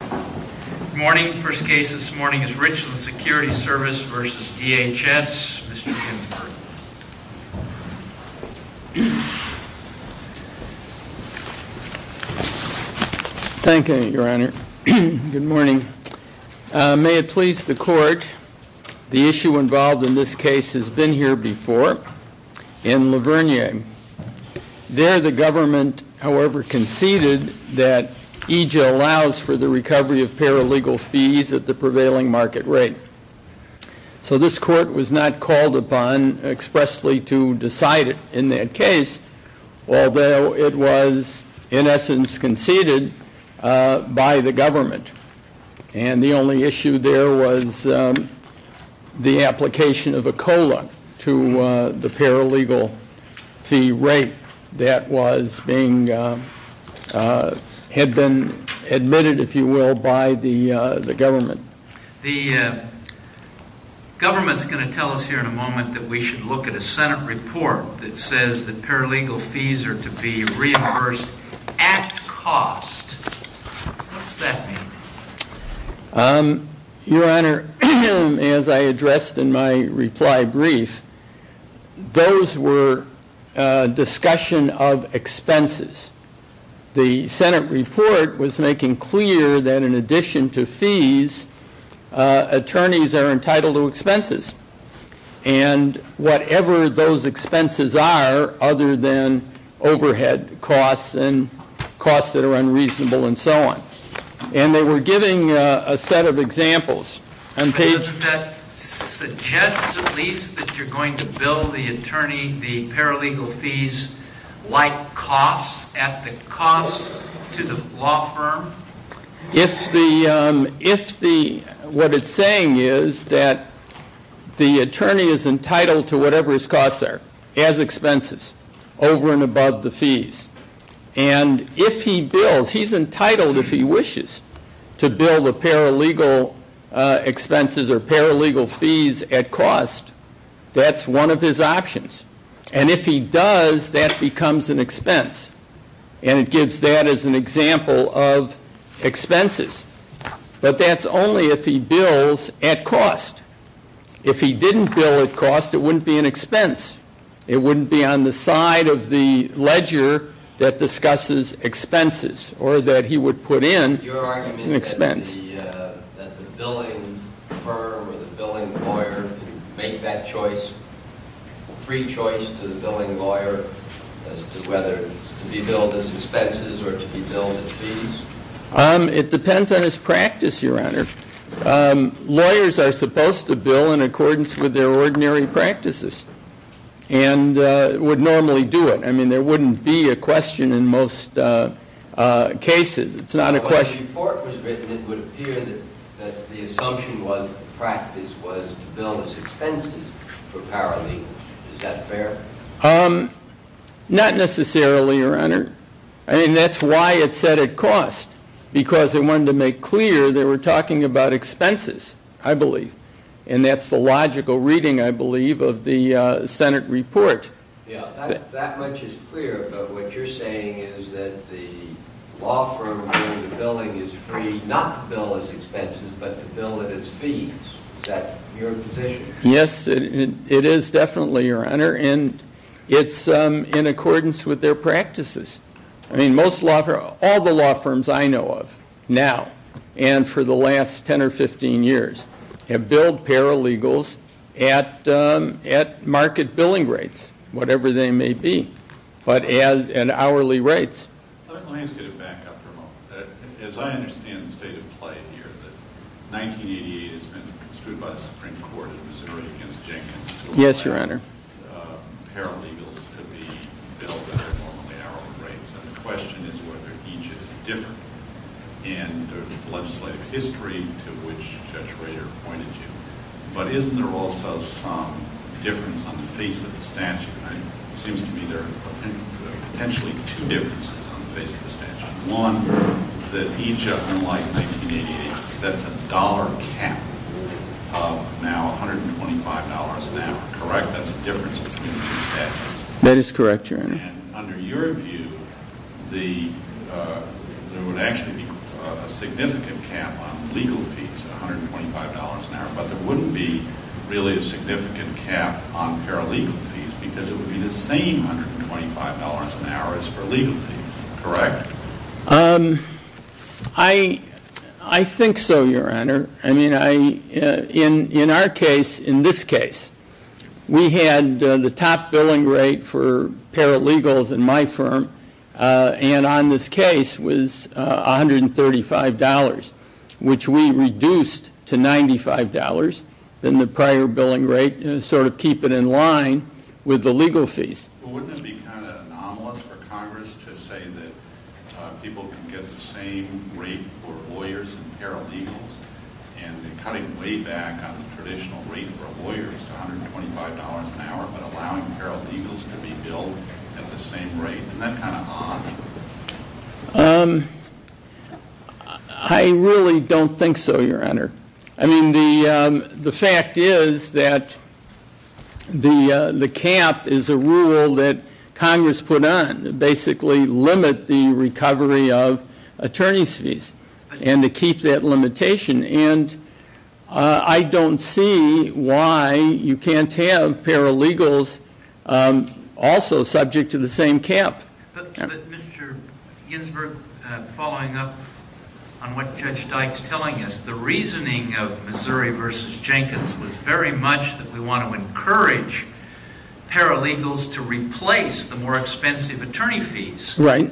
Good morning. The first case this morning is Richland Security Service v. DHS. Mr. Ginsburg. Thank you, Your Honor. Good morning. May it please the Court, the issue involved in this case has been here before, in La Vernier. There the government, however, conceded that EJ allows for the recovery of paralegal fees at the prevailing market rate. So this Court was not called upon expressly to decide it in that case, although it was in essence conceded by the government. And the only issue there was the application of a COLA to the paralegal fee rate that was being, had been admitted, if you will, by the government. The government's going to tell us here in a moment that we should look at a Senate report that says that paralegal fees are to be reimbursed at cost. What's that mean? Your Honor, as I addressed in my reply brief, those were discussion of expenses. The Senate report was making clear that in addition to fees, attorneys are entitled to expenses. And whatever those expenses are other than overhead costs and costs that are unreasonable and so on. And they were giving a set of examples. But doesn't that suggest at least that you're going to bill the attorney the paralegal fees like costs at the cost to the law firm? If the, what it's saying is that the attorney is entitled to whatever his costs are as expenses over and above the fees. And if he bills, he's entitled if he wishes to bill the paralegal expenses or paralegal fees at cost. That's one of his options. And if he does, that becomes an expense. And it gives that as an example of expenses. But that's only if he bills at cost. If he didn't bill at cost, it wouldn't be an expense. It wouldn't be on the side of the ledger that discusses expenses or that he would put in an expense. That the billing firm or the billing lawyer can make that choice, free choice to the billing lawyer as to whether to be billed as expenses or to be billed as fees? It depends on his practice, Your Honor. Lawyers are supposed to bill in accordance with their ordinary practices. And would normally do it. I mean, there wouldn't be a question in most cases. It's not a question. When the report was written, it would appear that the assumption was the practice was to bill as expenses for paralegal. Is that fair? Not necessarily, Your Honor. I mean, that's why it said at cost. Because they wanted to make clear they were talking about expenses, I believe. And that's the logical reading, I believe, of the Senate report. That much is clear. But what you're saying is that the law firm doing the billing is free not to bill as expenses, but to bill it as fees. Is that your position? Yes, it is definitely, Your Honor. And it's in accordance with their practices. I mean, most law firms, all the law firms I know of now, and for the last 10 or 15 years, have billed paralegals at market billing rates, whatever they may be, but at hourly rates. Let me ask you to back up for a moment. As I understand the state of play here, that 1988 has been construed by the Supreme Court of Missouri against Jenkins to allow paralegals to be billed at their normally hourly rates. And the question is whether EJIT is different in legislative history to which Judge Rader pointed to. But isn't there also some difference on the face of the statute? It seems to me there are potentially two differences on the face of the statute. One, that EJIT, unlike 1988, sets a dollar cap of now $125 an hour, correct? That's the difference between the two statutes. That is correct, Your Honor. And under your view, there would actually be a significant cap on legal fees, $125 an hour, but there wouldn't be really a significant cap on paralegal fees because it would be the same $125 an hour as for legal fees, correct? I think so, Your Honor. I mean, in our case, in this case, we had the top billing rate for paralegals in my firm, and on this case was $135, which we reduced to $95 than the prior billing rate, sort of keeping in line with the legal fees. Well, wouldn't it be kind of anomalous for Congress to say that people can get the same rate for lawyers and paralegals and cutting way back on the traditional rate for lawyers to $125 an hour but allowing paralegals to be billed at the same rate? Isn't that kind of odd? I really don't think so, Your Honor. I mean, the fact is that the cap is a rule that Congress put on to basically limit the recovery of attorney's fees and to keep that limitation, and I don't see why you can't have paralegals also subject to the same cap. But, Mr. Ginsburg, following up on what Judge Dykes is telling us, the reasoning of Missouri v. Jenkins was very much that we want to encourage paralegals to replace the more expensive attorney fees. Right.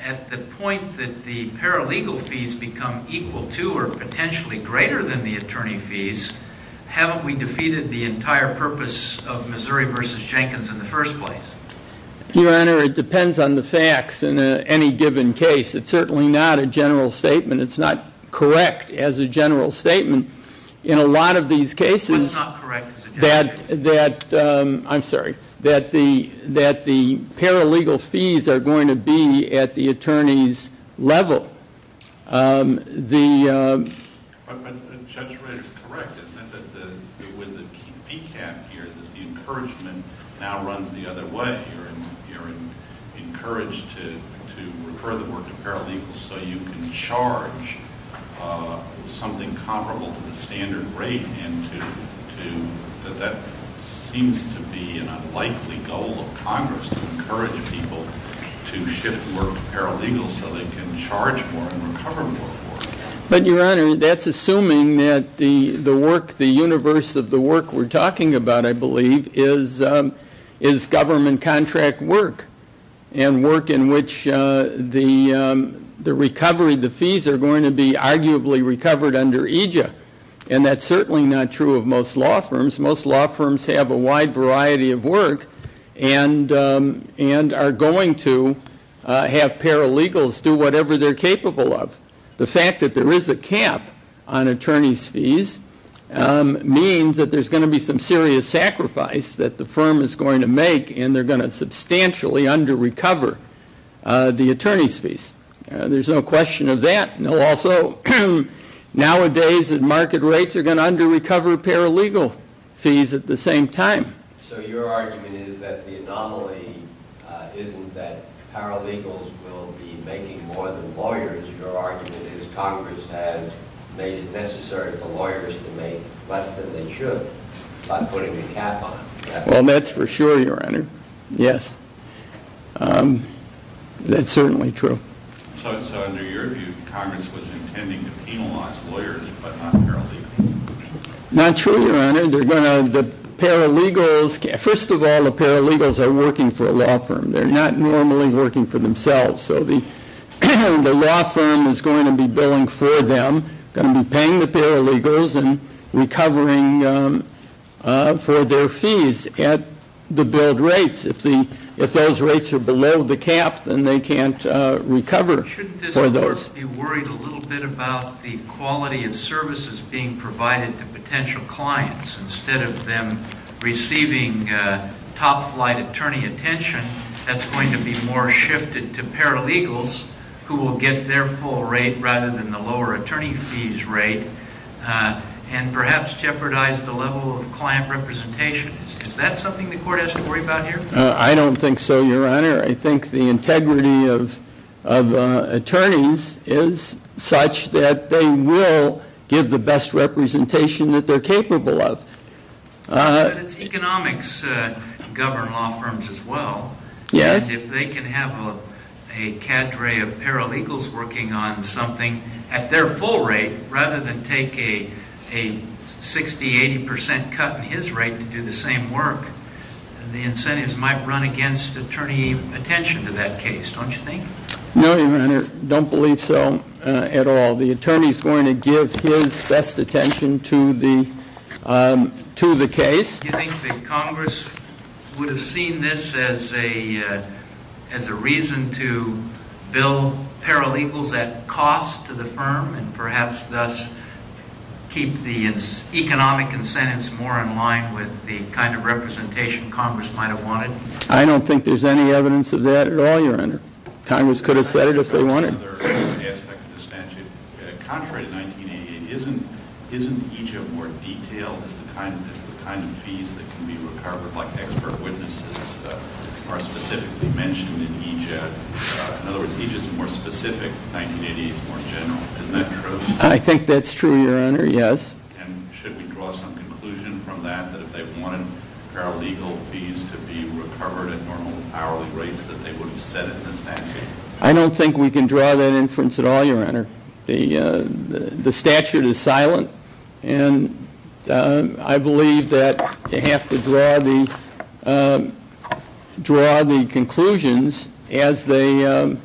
At the point that the paralegal fees become equal to or potentially greater than the attorney fees, haven't we defeated the entire purpose of Missouri v. Jenkins in the first place? Your Honor, it depends on the facts in any given case. It's certainly not a general statement. It's not correct as a general statement in a lot of these cases that the paralegal fees are going to be at the attorney's level. But Judge Wright is correct. It's not that with the fee cap here that the encouragement now runs the other way. You're encouraged to refer the work to paralegals so you can charge something comparable to the standard rate, and that seems to be an unlikely goal of Congress, to encourage people to shift work to paralegals so they can charge more and recover more. But, Your Honor, that's assuming that the work, the universe of the work we're talking about, I believe, is government contract work and work in which the recovery, the fees, are going to be arguably recovered under EJA. And that's certainly not true of most law firms. Most law firms have a wide variety of work and are going to have paralegals do whatever they're capable of. The fact that there is a cap on attorney's fees means that there's going to be some serious sacrifice that the firm is going to make, and they're going to substantially under-recover the attorney's fees. There's no question of that. Also, nowadays, market rates are going to under-recover paralegal fees at the same time. So your argument is that the anomaly isn't that paralegals will be making more than lawyers. Your argument is Congress has made it necessary for lawyers to make less than they should by putting a cap on it. Well, that's for sure, Your Honor. Yes. That's certainly true. So under your view, Congress was intending to penalize lawyers but not paralegals? Not true, Your Honor. The paralegals, first of all, the paralegals are working for a law firm. They're not normally working for themselves. So the law firm is going to be billing for them, going to be paying the paralegals and recovering for their fees at the billed rates. If those rates are below the cap, then they can't recover for those. Shouldn't this Court be worried a little bit about the quality of services being provided to potential clients? Instead of them receiving top-flight attorney attention, that's going to be more shifted to paralegals who will get their full rate rather than the lower attorney fees rate and perhaps jeopardize the level of client representation. Is that something the Court has to worry about here? I don't think so, Your Honor. I think the integrity of attorneys is such that they will give the best representation that they're capable of. But it's economics to govern law firms as well. Yes. If they can have a cadre of paralegals working on something at their full rate rather than take a 60%, 80% cut in his rate to do the same work, then the incentives might run against attorney attention to that case, don't you think? No, Your Honor. I don't believe so at all. The attorney is going to give his best attention to the case. Do you think that Congress would have seen this as a reason to bill paralegals at cost to the firm and perhaps thus keep the economic incentives more in line with the kind of representation Congress might have wanted? I don't think there's any evidence of that at all, Your Honor. Congress could have said it if they wanted. One other aspect of the statute. Contrary to 1988, isn't EJ more detailed as the kind of fees that can be recovered, like expert witnesses are specifically mentioned in EJ? In other words, EJ is more specific. 1988 is more general. Isn't that true? I think that's true, Your Honor, yes. And should we draw some conclusion from that, that if they wanted paralegal fees to be recovered at normal hourly rates, that they would have said it in the statute? I don't think we can draw that inference at all, Your Honor. The statute is silent, and I believe that you have to draw the conclusions as they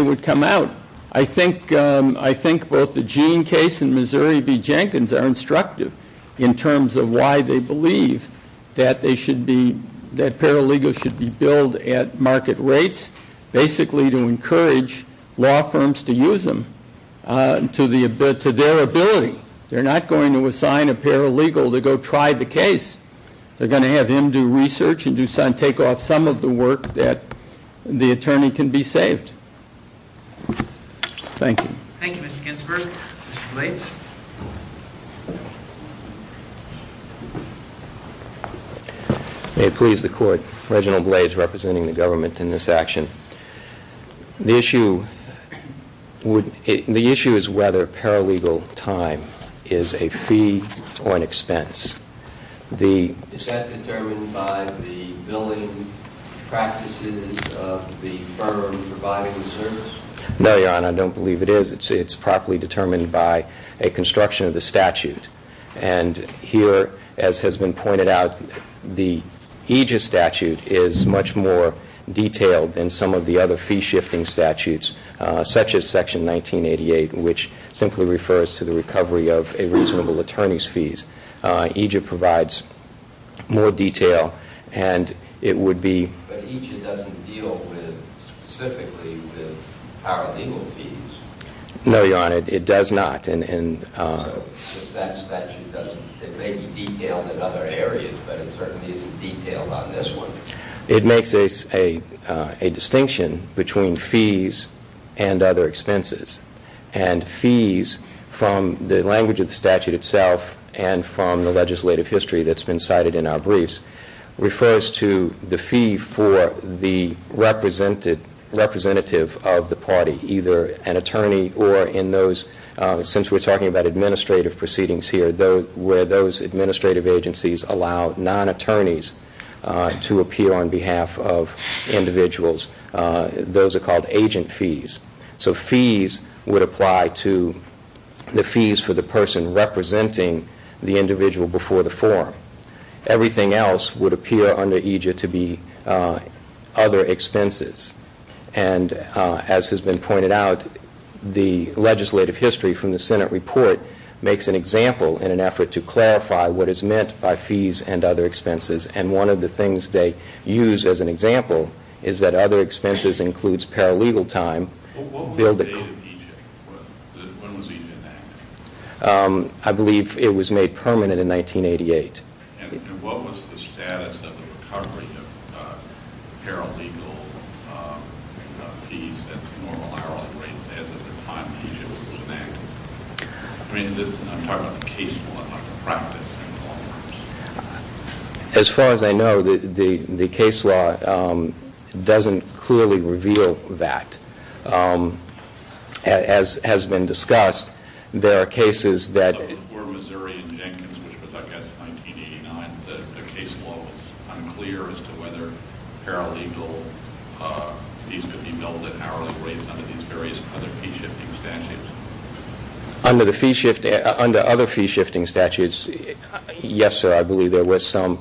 would come out. I think both the Jean case and Missouri v. Jenkins are instructive in terms of why they believe that paralegals should be billed at market rates. Basically to encourage law firms to use them to their ability. They're not going to assign a paralegal to go try the case. They're going to have him do research and take off some of the work that the attorney can be saved. Thank you. Thank you, Mr. Ginsburg. Mr. Blades. May it please the Court, Reginald Blades representing the government in this action. The issue is whether paralegal time is a fee or an expense. Is that determined by the billing practices of the firm providing the service? No, Your Honor, I don't believe it is. It's properly determined by a construction of the statute. And here, as has been pointed out, the EJIA statute is much more detailed than some of the other fee-shifting statutes, such as Section 1988, which simply refers to the recovery of a reasonable attorney's fees. EJIA provides more detail, and it would be- But EJIA doesn't deal specifically with paralegal fees. No, Your Honor, it does not. It may be detailed in other areas, but it certainly isn't detailed on this one. It makes a distinction between fees and other expenses. And fees, from the language of the statute itself and from the legislative history that's been cited in our briefs, refers to the fee for the representative of the party, either an attorney or in those- Since we're talking about administrative proceedings here, where those administrative agencies allow non-attorneys to appear on behalf of individuals, those are called agent fees. So fees would apply to the fees for the person representing the individual before the forum. Everything else would appear under EJIA to be other expenses. And as has been pointed out, the legislative history from the Senate report makes an example in an effort to clarify what is meant by fees and other expenses. And one of the things they use as an example is that other expenses includes paralegal time. What was the date of EJIA? When was EJIA enacted? I believe it was made permanent in 1988. And what was the status of the recovery of paralegal fees at normal hourly rates as of the time EJIA was enacted? I mean, I'm talking about the case law, not the practice in all terms. As far as I know, the case law doesn't clearly reveal that. As has been discussed, there are cases that- In 1989, the case law was unclear as to whether paralegal fees could be billed at hourly rates under these various other fee-shifting statutes. Under other fee-shifting statutes, yes, sir, I believe there was some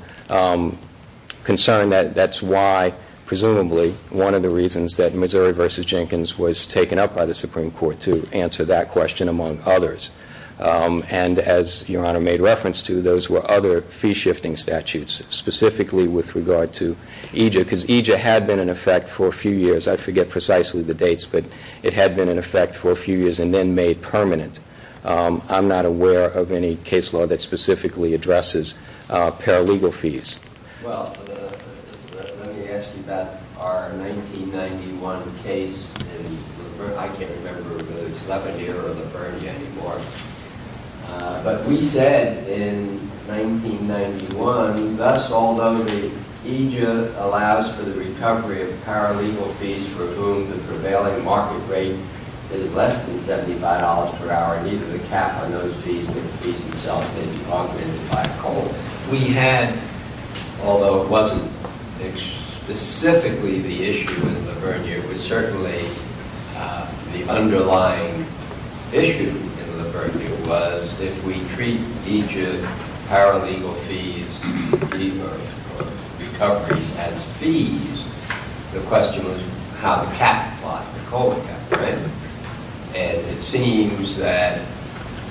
concern. That's why, presumably, one of the reasons that Missouri v. Jenkins was taken up by the Supreme Court to answer that question among others. And as Your Honor made reference to, those were other fee-shifting statutes, specifically with regard to EJIA, because EJIA had been in effect for a few years. I forget precisely the dates, but it had been in effect for a few years and then made permanent. I'm not aware of any case law that specifically addresses paralegal fees. Well, let me ask you about our 1991 case. I can't remember whether it was Lavergne or Lavergne anymore. But we said in 1991, thus, although EJIA allows for the recovery of paralegal fees for whom the prevailing market rate is less than $75 per hour, neither the cap on those fees nor the fees themselves may be augmented by a cold, we had, although it wasn't specifically the issue in Lavergne, it was certainly the underlying issue in Lavergne was, if we treat EJIA paralegal fees or recoveries as fees, the question was how the cap applied, the cold cap, right? And it seems that,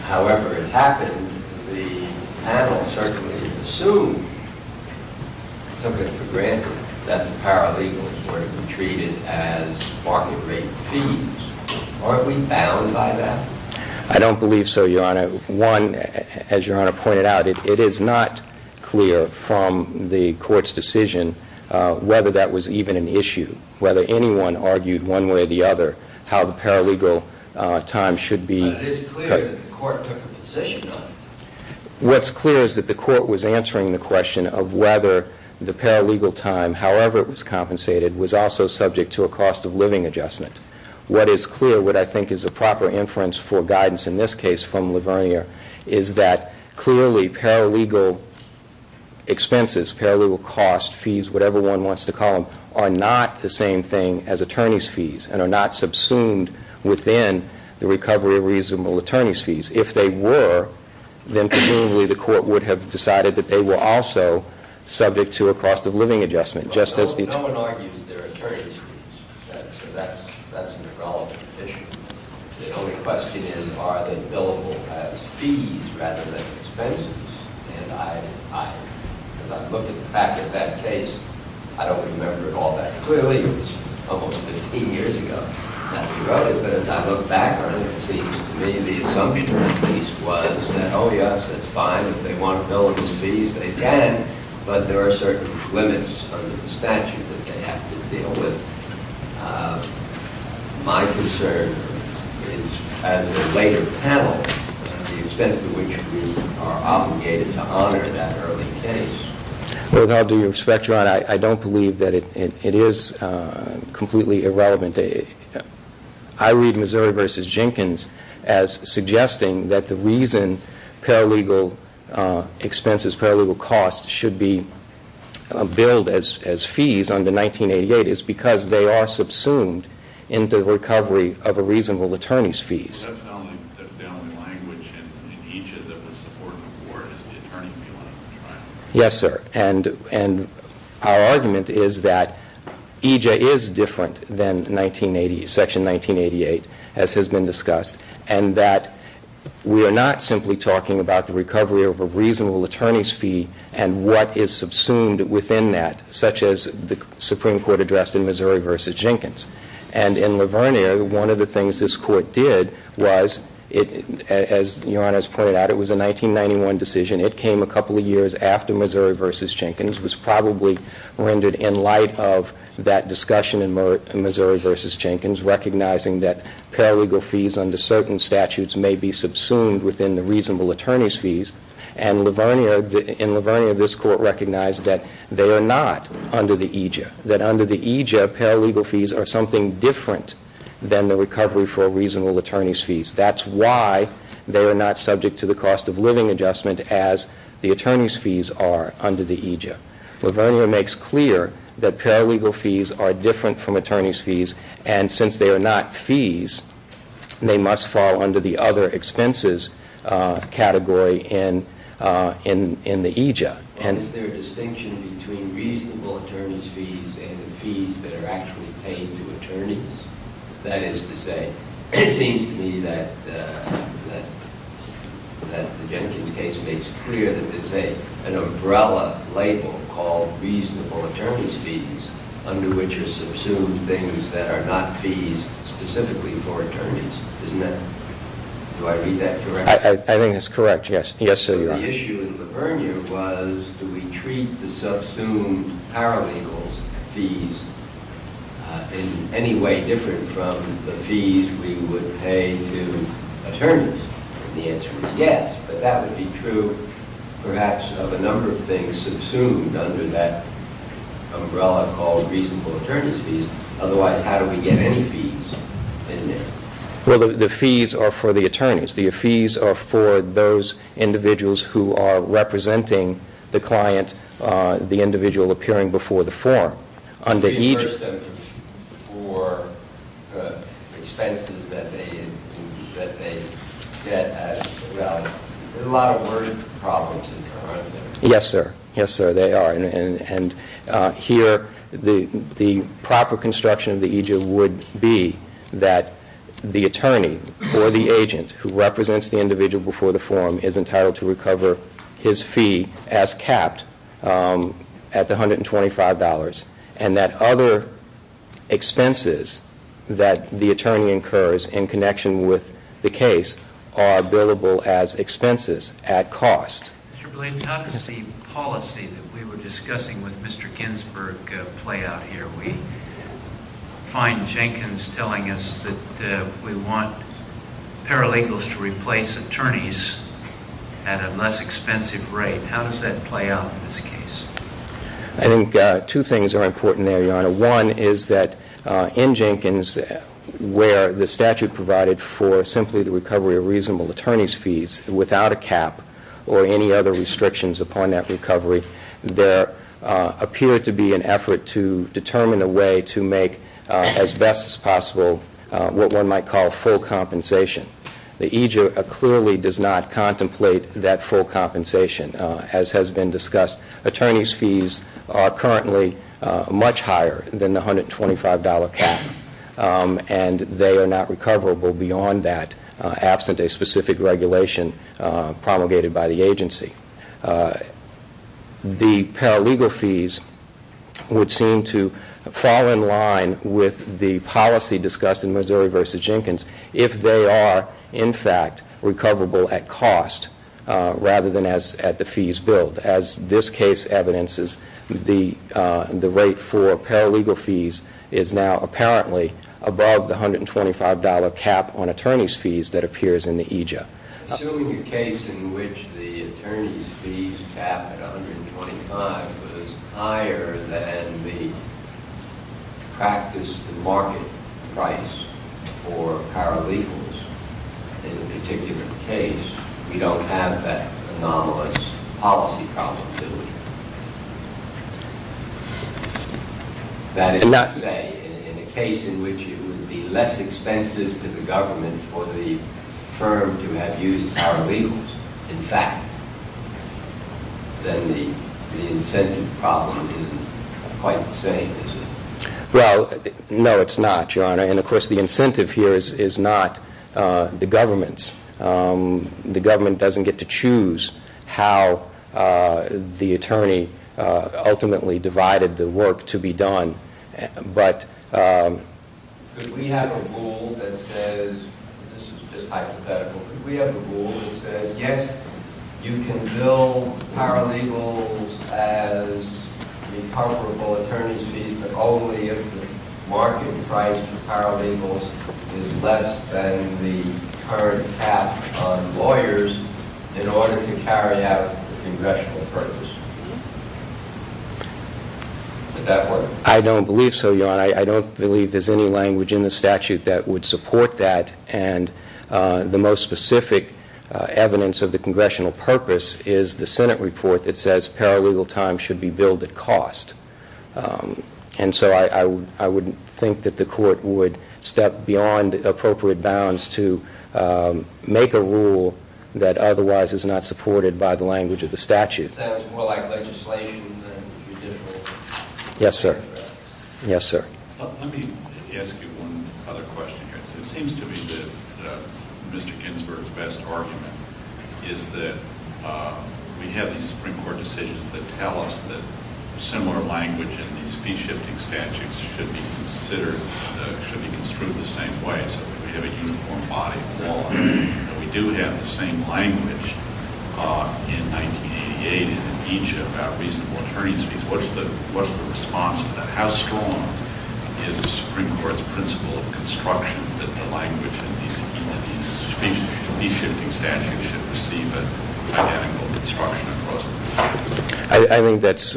however it happened, the panel certainly assumed, simply for granted, that the paralegals were to be treated as market rate fees. Aren't we bound by that? I don't believe so, Your Honor. One, as Your Honor pointed out, it is not clear from the Court's decision whether that was even an issue, whether anyone argued one way or the other how the paralegal time should be... But it is clear that the Court took a position on it. What's clear is that the Court was answering the question of whether the paralegal time, however it was compensated, was also subject to a cost-of-living adjustment. What is clear, what I think is a proper inference for guidance in this case from Lavergne, is that clearly paralegal expenses, paralegal costs, fees, whatever one wants to call them, are not the same thing as attorney's fees and are not subsumed within the recovery of reasonable attorney's fees. If they were, then presumably the Court would have decided that they were also subject to a cost-of-living adjustment, just as the attorney... No one argues they're attorney's fees. That's an irrelevant issue. The only question is, are they billable as fees rather than expenses? As I look back at that case, I don't remember it all that clearly. It was almost 15 years ago that we wrote it. But as I look back on it, it seems to me the assumption at least was that, oh, yes, it's fine if they want to bill it as fees, they can, but there are certain limits under the statute that they have to deal with. My concern is, as a later panel, the extent to which we are obligated to honor that early case. Without due respect, Your Honor, I don't believe that it is completely irrelevant. I read Missouri v. Jenkins as suggesting that the reason paralegal expenses, paralegal costs, should be billed as fees under 1988 is because they are subsumed into the recovery of a reasonable attorney's fees. That's the only language in EJ that would support an award is the attorney fee line of trial. Yes, sir. And our argument is that EJ is different than Section 1988, as has been discussed, and that we are not simply talking about the recovery of a reasonable attorney's fee and what is subsumed within that, such as the Supreme Court addressed in Missouri v. Jenkins. And in Laverniere, one of the things this Court did was, as Your Honor has pointed out, it was a 1991 decision. It came a couple of years after Missouri v. Jenkins. It was probably rendered in light of that discussion in Missouri v. Jenkins, recognizing that paralegal fees under certain statutes may be subsumed within the reasonable attorney's fees. And in Laverniere, this Court recognized that they are not under the EJ, that under the EJ, paralegal fees are something different than the recovery for a reasonable attorney's fees. That's why they are not subject to the cost-of-living adjustment as the attorney's fees are under the EJ. Laverniere makes clear that paralegal fees are different from attorney's fees, and since they are not fees, they must fall under the other expenses category in the EJ. Is there a distinction between reasonable attorney's fees and the fees that are actually paid to attorneys? That is to say, it seems to me that the Jenkins case makes clear that there's an umbrella label called reasonable attorney's fees under which are subsumed things that are not fees specifically for attorneys, isn't it? Do I read that correctly? I think that's correct, yes. The issue in Laverniere was do we treat the subsumed paralegal fees in any way different from the fees we would pay to attorneys? The answer is yes, but that would be true perhaps of a number of things subsumed under that umbrella called reasonable attorney's fees. Otherwise, how do we get any fees in there? Well, the fees are for the attorneys. The fees are for those individuals who are representing the client, the individual appearing before the forum. Do you reimburse them for expenses that they get as well? There are a lot of word problems in there, aren't there? Yes, sir. Yes, sir, there are. Here, the proper construction of the EJ would be that the attorney or the agent who represents the individual before the forum is entitled to recover his fee as capped at the $125, and that other expenses that the attorney incurs in connection with the case are billable as expenses at cost. Mr. Blades, how does the policy that we were discussing with Mr. Ginsburg play out here? We find Jenkins telling us that we want paralegals to replace attorneys at a less expensive rate. How does that play out in this case? I think two things are important there, Your Honor. One is that in Jenkins, where the statute provided for simply the recovery of reasonable attorney's fees without a cap or any other restrictions upon that recovery, there appeared to be an effort to determine a way to make, as best as possible, what one might call full compensation. The EJ clearly does not contemplate that full compensation, as has been discussed. Attorney's fees are currently much higher than the $125 cap, and they are not recoverable beyond that, absent a specific regulation promulgated by the agency. The paralegal fees would seem to fall in line with the policy discussed in Missouri v. Jenkins if they are, in fact, recoverable at cost rather than at the fees billed. As this case evidences, the rate for paralegal fees is now apparently above the $125 cap on attorney's fees that appears in the EJ. Assuming a case in which the attorney's fees cap at $125 was higher than the practice market price for paralegals, in a particular case, we don't have that anomalous policy probability. That is to say, in a case in which it would be less expensive to the government for the firm to have used paralegals, in fact, then the incentive problem isn't quite the same, is it? Well, no, it's not, Your Honor, and of course the incentive here is not the government's. The government doesn't get to choose how the attorney ultimately divided the work to be done, but... Could we have a rule that says, this is just hypothetical, could we have a rule that says, yes, you can bill paralegals as recoverable attorney's fees, but only if the market price for paralegals is less than the current cap on lawyers in order to carry out the congressional purpose? Would that work? I don't believe so, Your Honor. I don't believe there's any language in the statute that would support that, and the most specific evidence of the congressional purpose is the Senate report that says paralegal time should be billed at cost, and so I wouldn't think that the Court would step beyond appropriate bounds to make a rule that otherwise is not supported by the language of the statute. So it's more like legislation than judicial? Yes, sir. Yes, sir. Let me ask you one other question here. It seems to me that Mr. Ginsburg's best argument is that we have these Supreme Court decisions that tell us that similar language in these fee-shifting statutes should be considered, should be construed the same way, so that we have a uniform body of law. We do have the same language in 1988 in each of our reasonable attorney's fees. What's the response to that? How strong is the Supreme Court's principle of construction that the language in these fee-shifting statutes should receive an identical construction across the board? I think that's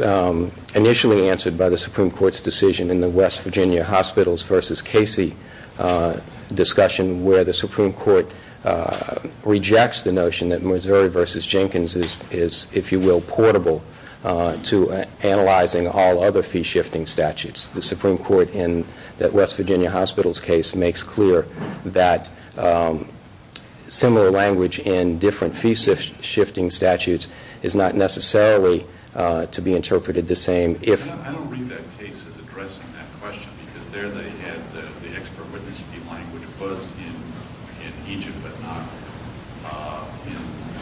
initially answered by the Supreme Court's decision in the West Virginia Hospitals v. Casey discussion, where the Supreme Court rejects the notion that Missouri v. Jenkins is, if you will, portable to analyzing all other fee-shifting statutes. The Supreme Court in that West Virginia Hospitals case makes clear that similar language in different fee-shifting statutes is not necessarily to be interpreted the same. I don't read that case as addressing that question, because there they had the expert witness fee language was in Egypt, but not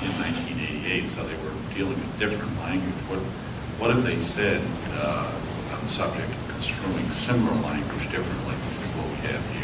in 1988, so they were dealing with different language. What if they said on the subject of construing similar language differently, like what we have here?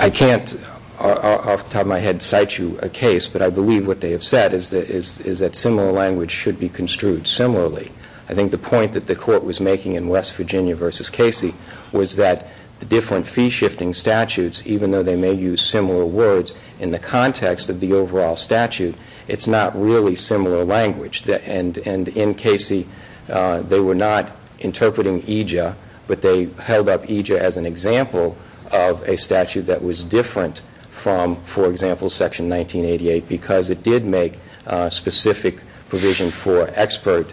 I can't off the top of my head cite you a case, but I believe what they have said is that similar language should be construed similarly. I think the point that the Court was making in West Virginia v. Casey was that the different fee-shifting statutes, even though they may use similar words in the context of the overall statute, it's not really similar language. In Casey, they were not interpreting EJIA, but they held up EJIA as an example of a statute that was different from, for example, Section 1988, because it did make specific provision for expert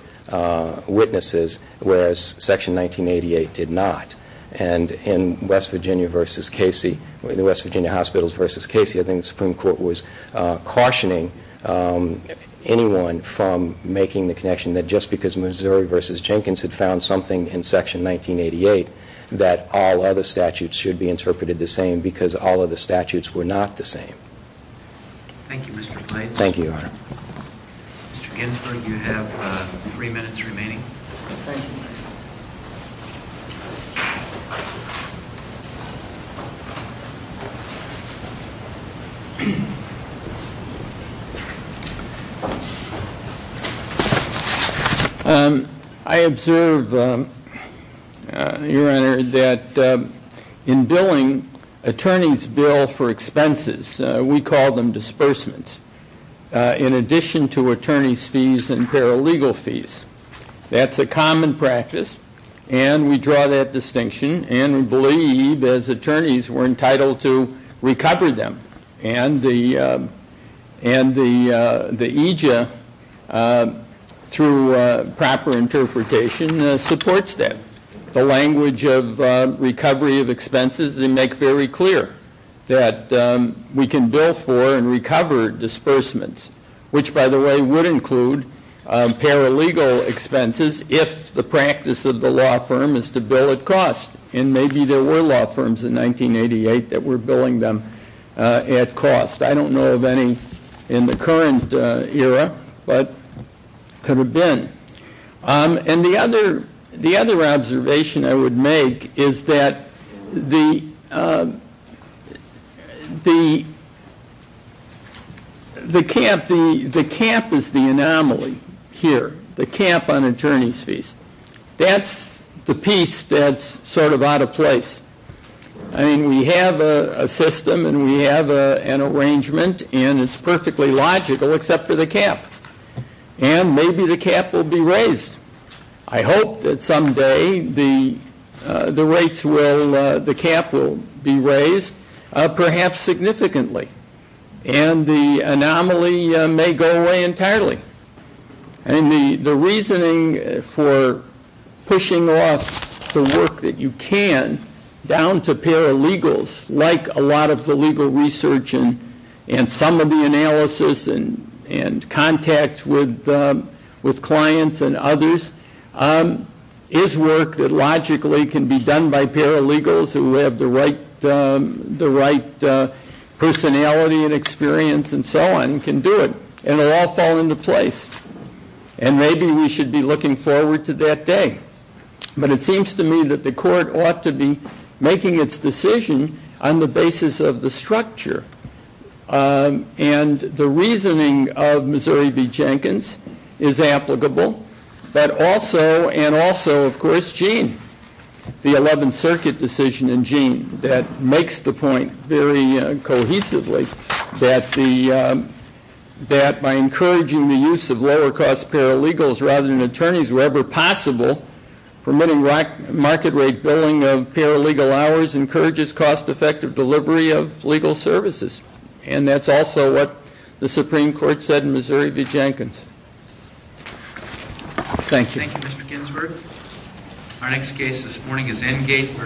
witnesses, whereas Section 1988 did not. In West Virginia hospitals v. Casey, I think the Supreme Court was cautioning anyone from making the connection that just because Missouri v. Jenkins had found something in Section 1988, that all other statutes should be interpreted the same, because all other statutes were not the same. Thank you, Mr. Blades. Thank you, Your Honor. Mr. Ginsburg, you have three minutes remaining. Thank you. I observe, Your Honor, that in billing, attorneys bill for expenses, we call them disbursements, in addition to attorney's fees and paralegal fees. That's a common practice, and we draw that distinction, and we believe, as attorneys, we're entitled to recover them. And the EJIA, through proper interpretation, supports that. The language of recovery of expenses, they make very clear that we can bill for and recover disbursements, which, by the way, would include paralegal expenses if the practice of the law firm is to bill at cost. And maybe there were law firms in 1988 that were billing them at cost. I don't know of any in the current era, but could have been. And the other observation I would make is that the cap is the anomaly here, the cap on attorney's fees. That's the piece that's sort of out of place. I mean, we have a system, and we have an arrangement, and it's perfectly logical except for the cap. And maybe the cap will be raised. I hope that someday the rates will, the cap will be raised, perhaps significantly. And the anomaly may go away entirely. And the reasoning for pushing off the work that you can down to paralegals, like a lot of the legal research and some of the analysis and contacts with clients and others, is work that logically can be done by paralegals who have the right personality and experience and so on, and can do it, and it will all fall into place. And maybe we should be looking forward to that day. But it seems to me that the court ought to be making its decision on the basis of the structure. And the reasoning of Missouri v. Jenkins is applicable. But also, and also, of course, Gene, the 11th Circuit decision in Gene that makes the point very cohesively that by encouraging the use of lower-cost paralegals rather than attorneys wherever possible, permitting market-rate billing of paralegal hours encourages cost-effective delivery of legal services. And that's also what the Supreme Court said in Missouri v. Jenkins. Thank you. Thank you, Mr. Ginsberg. Our next case this morning is Engate versus...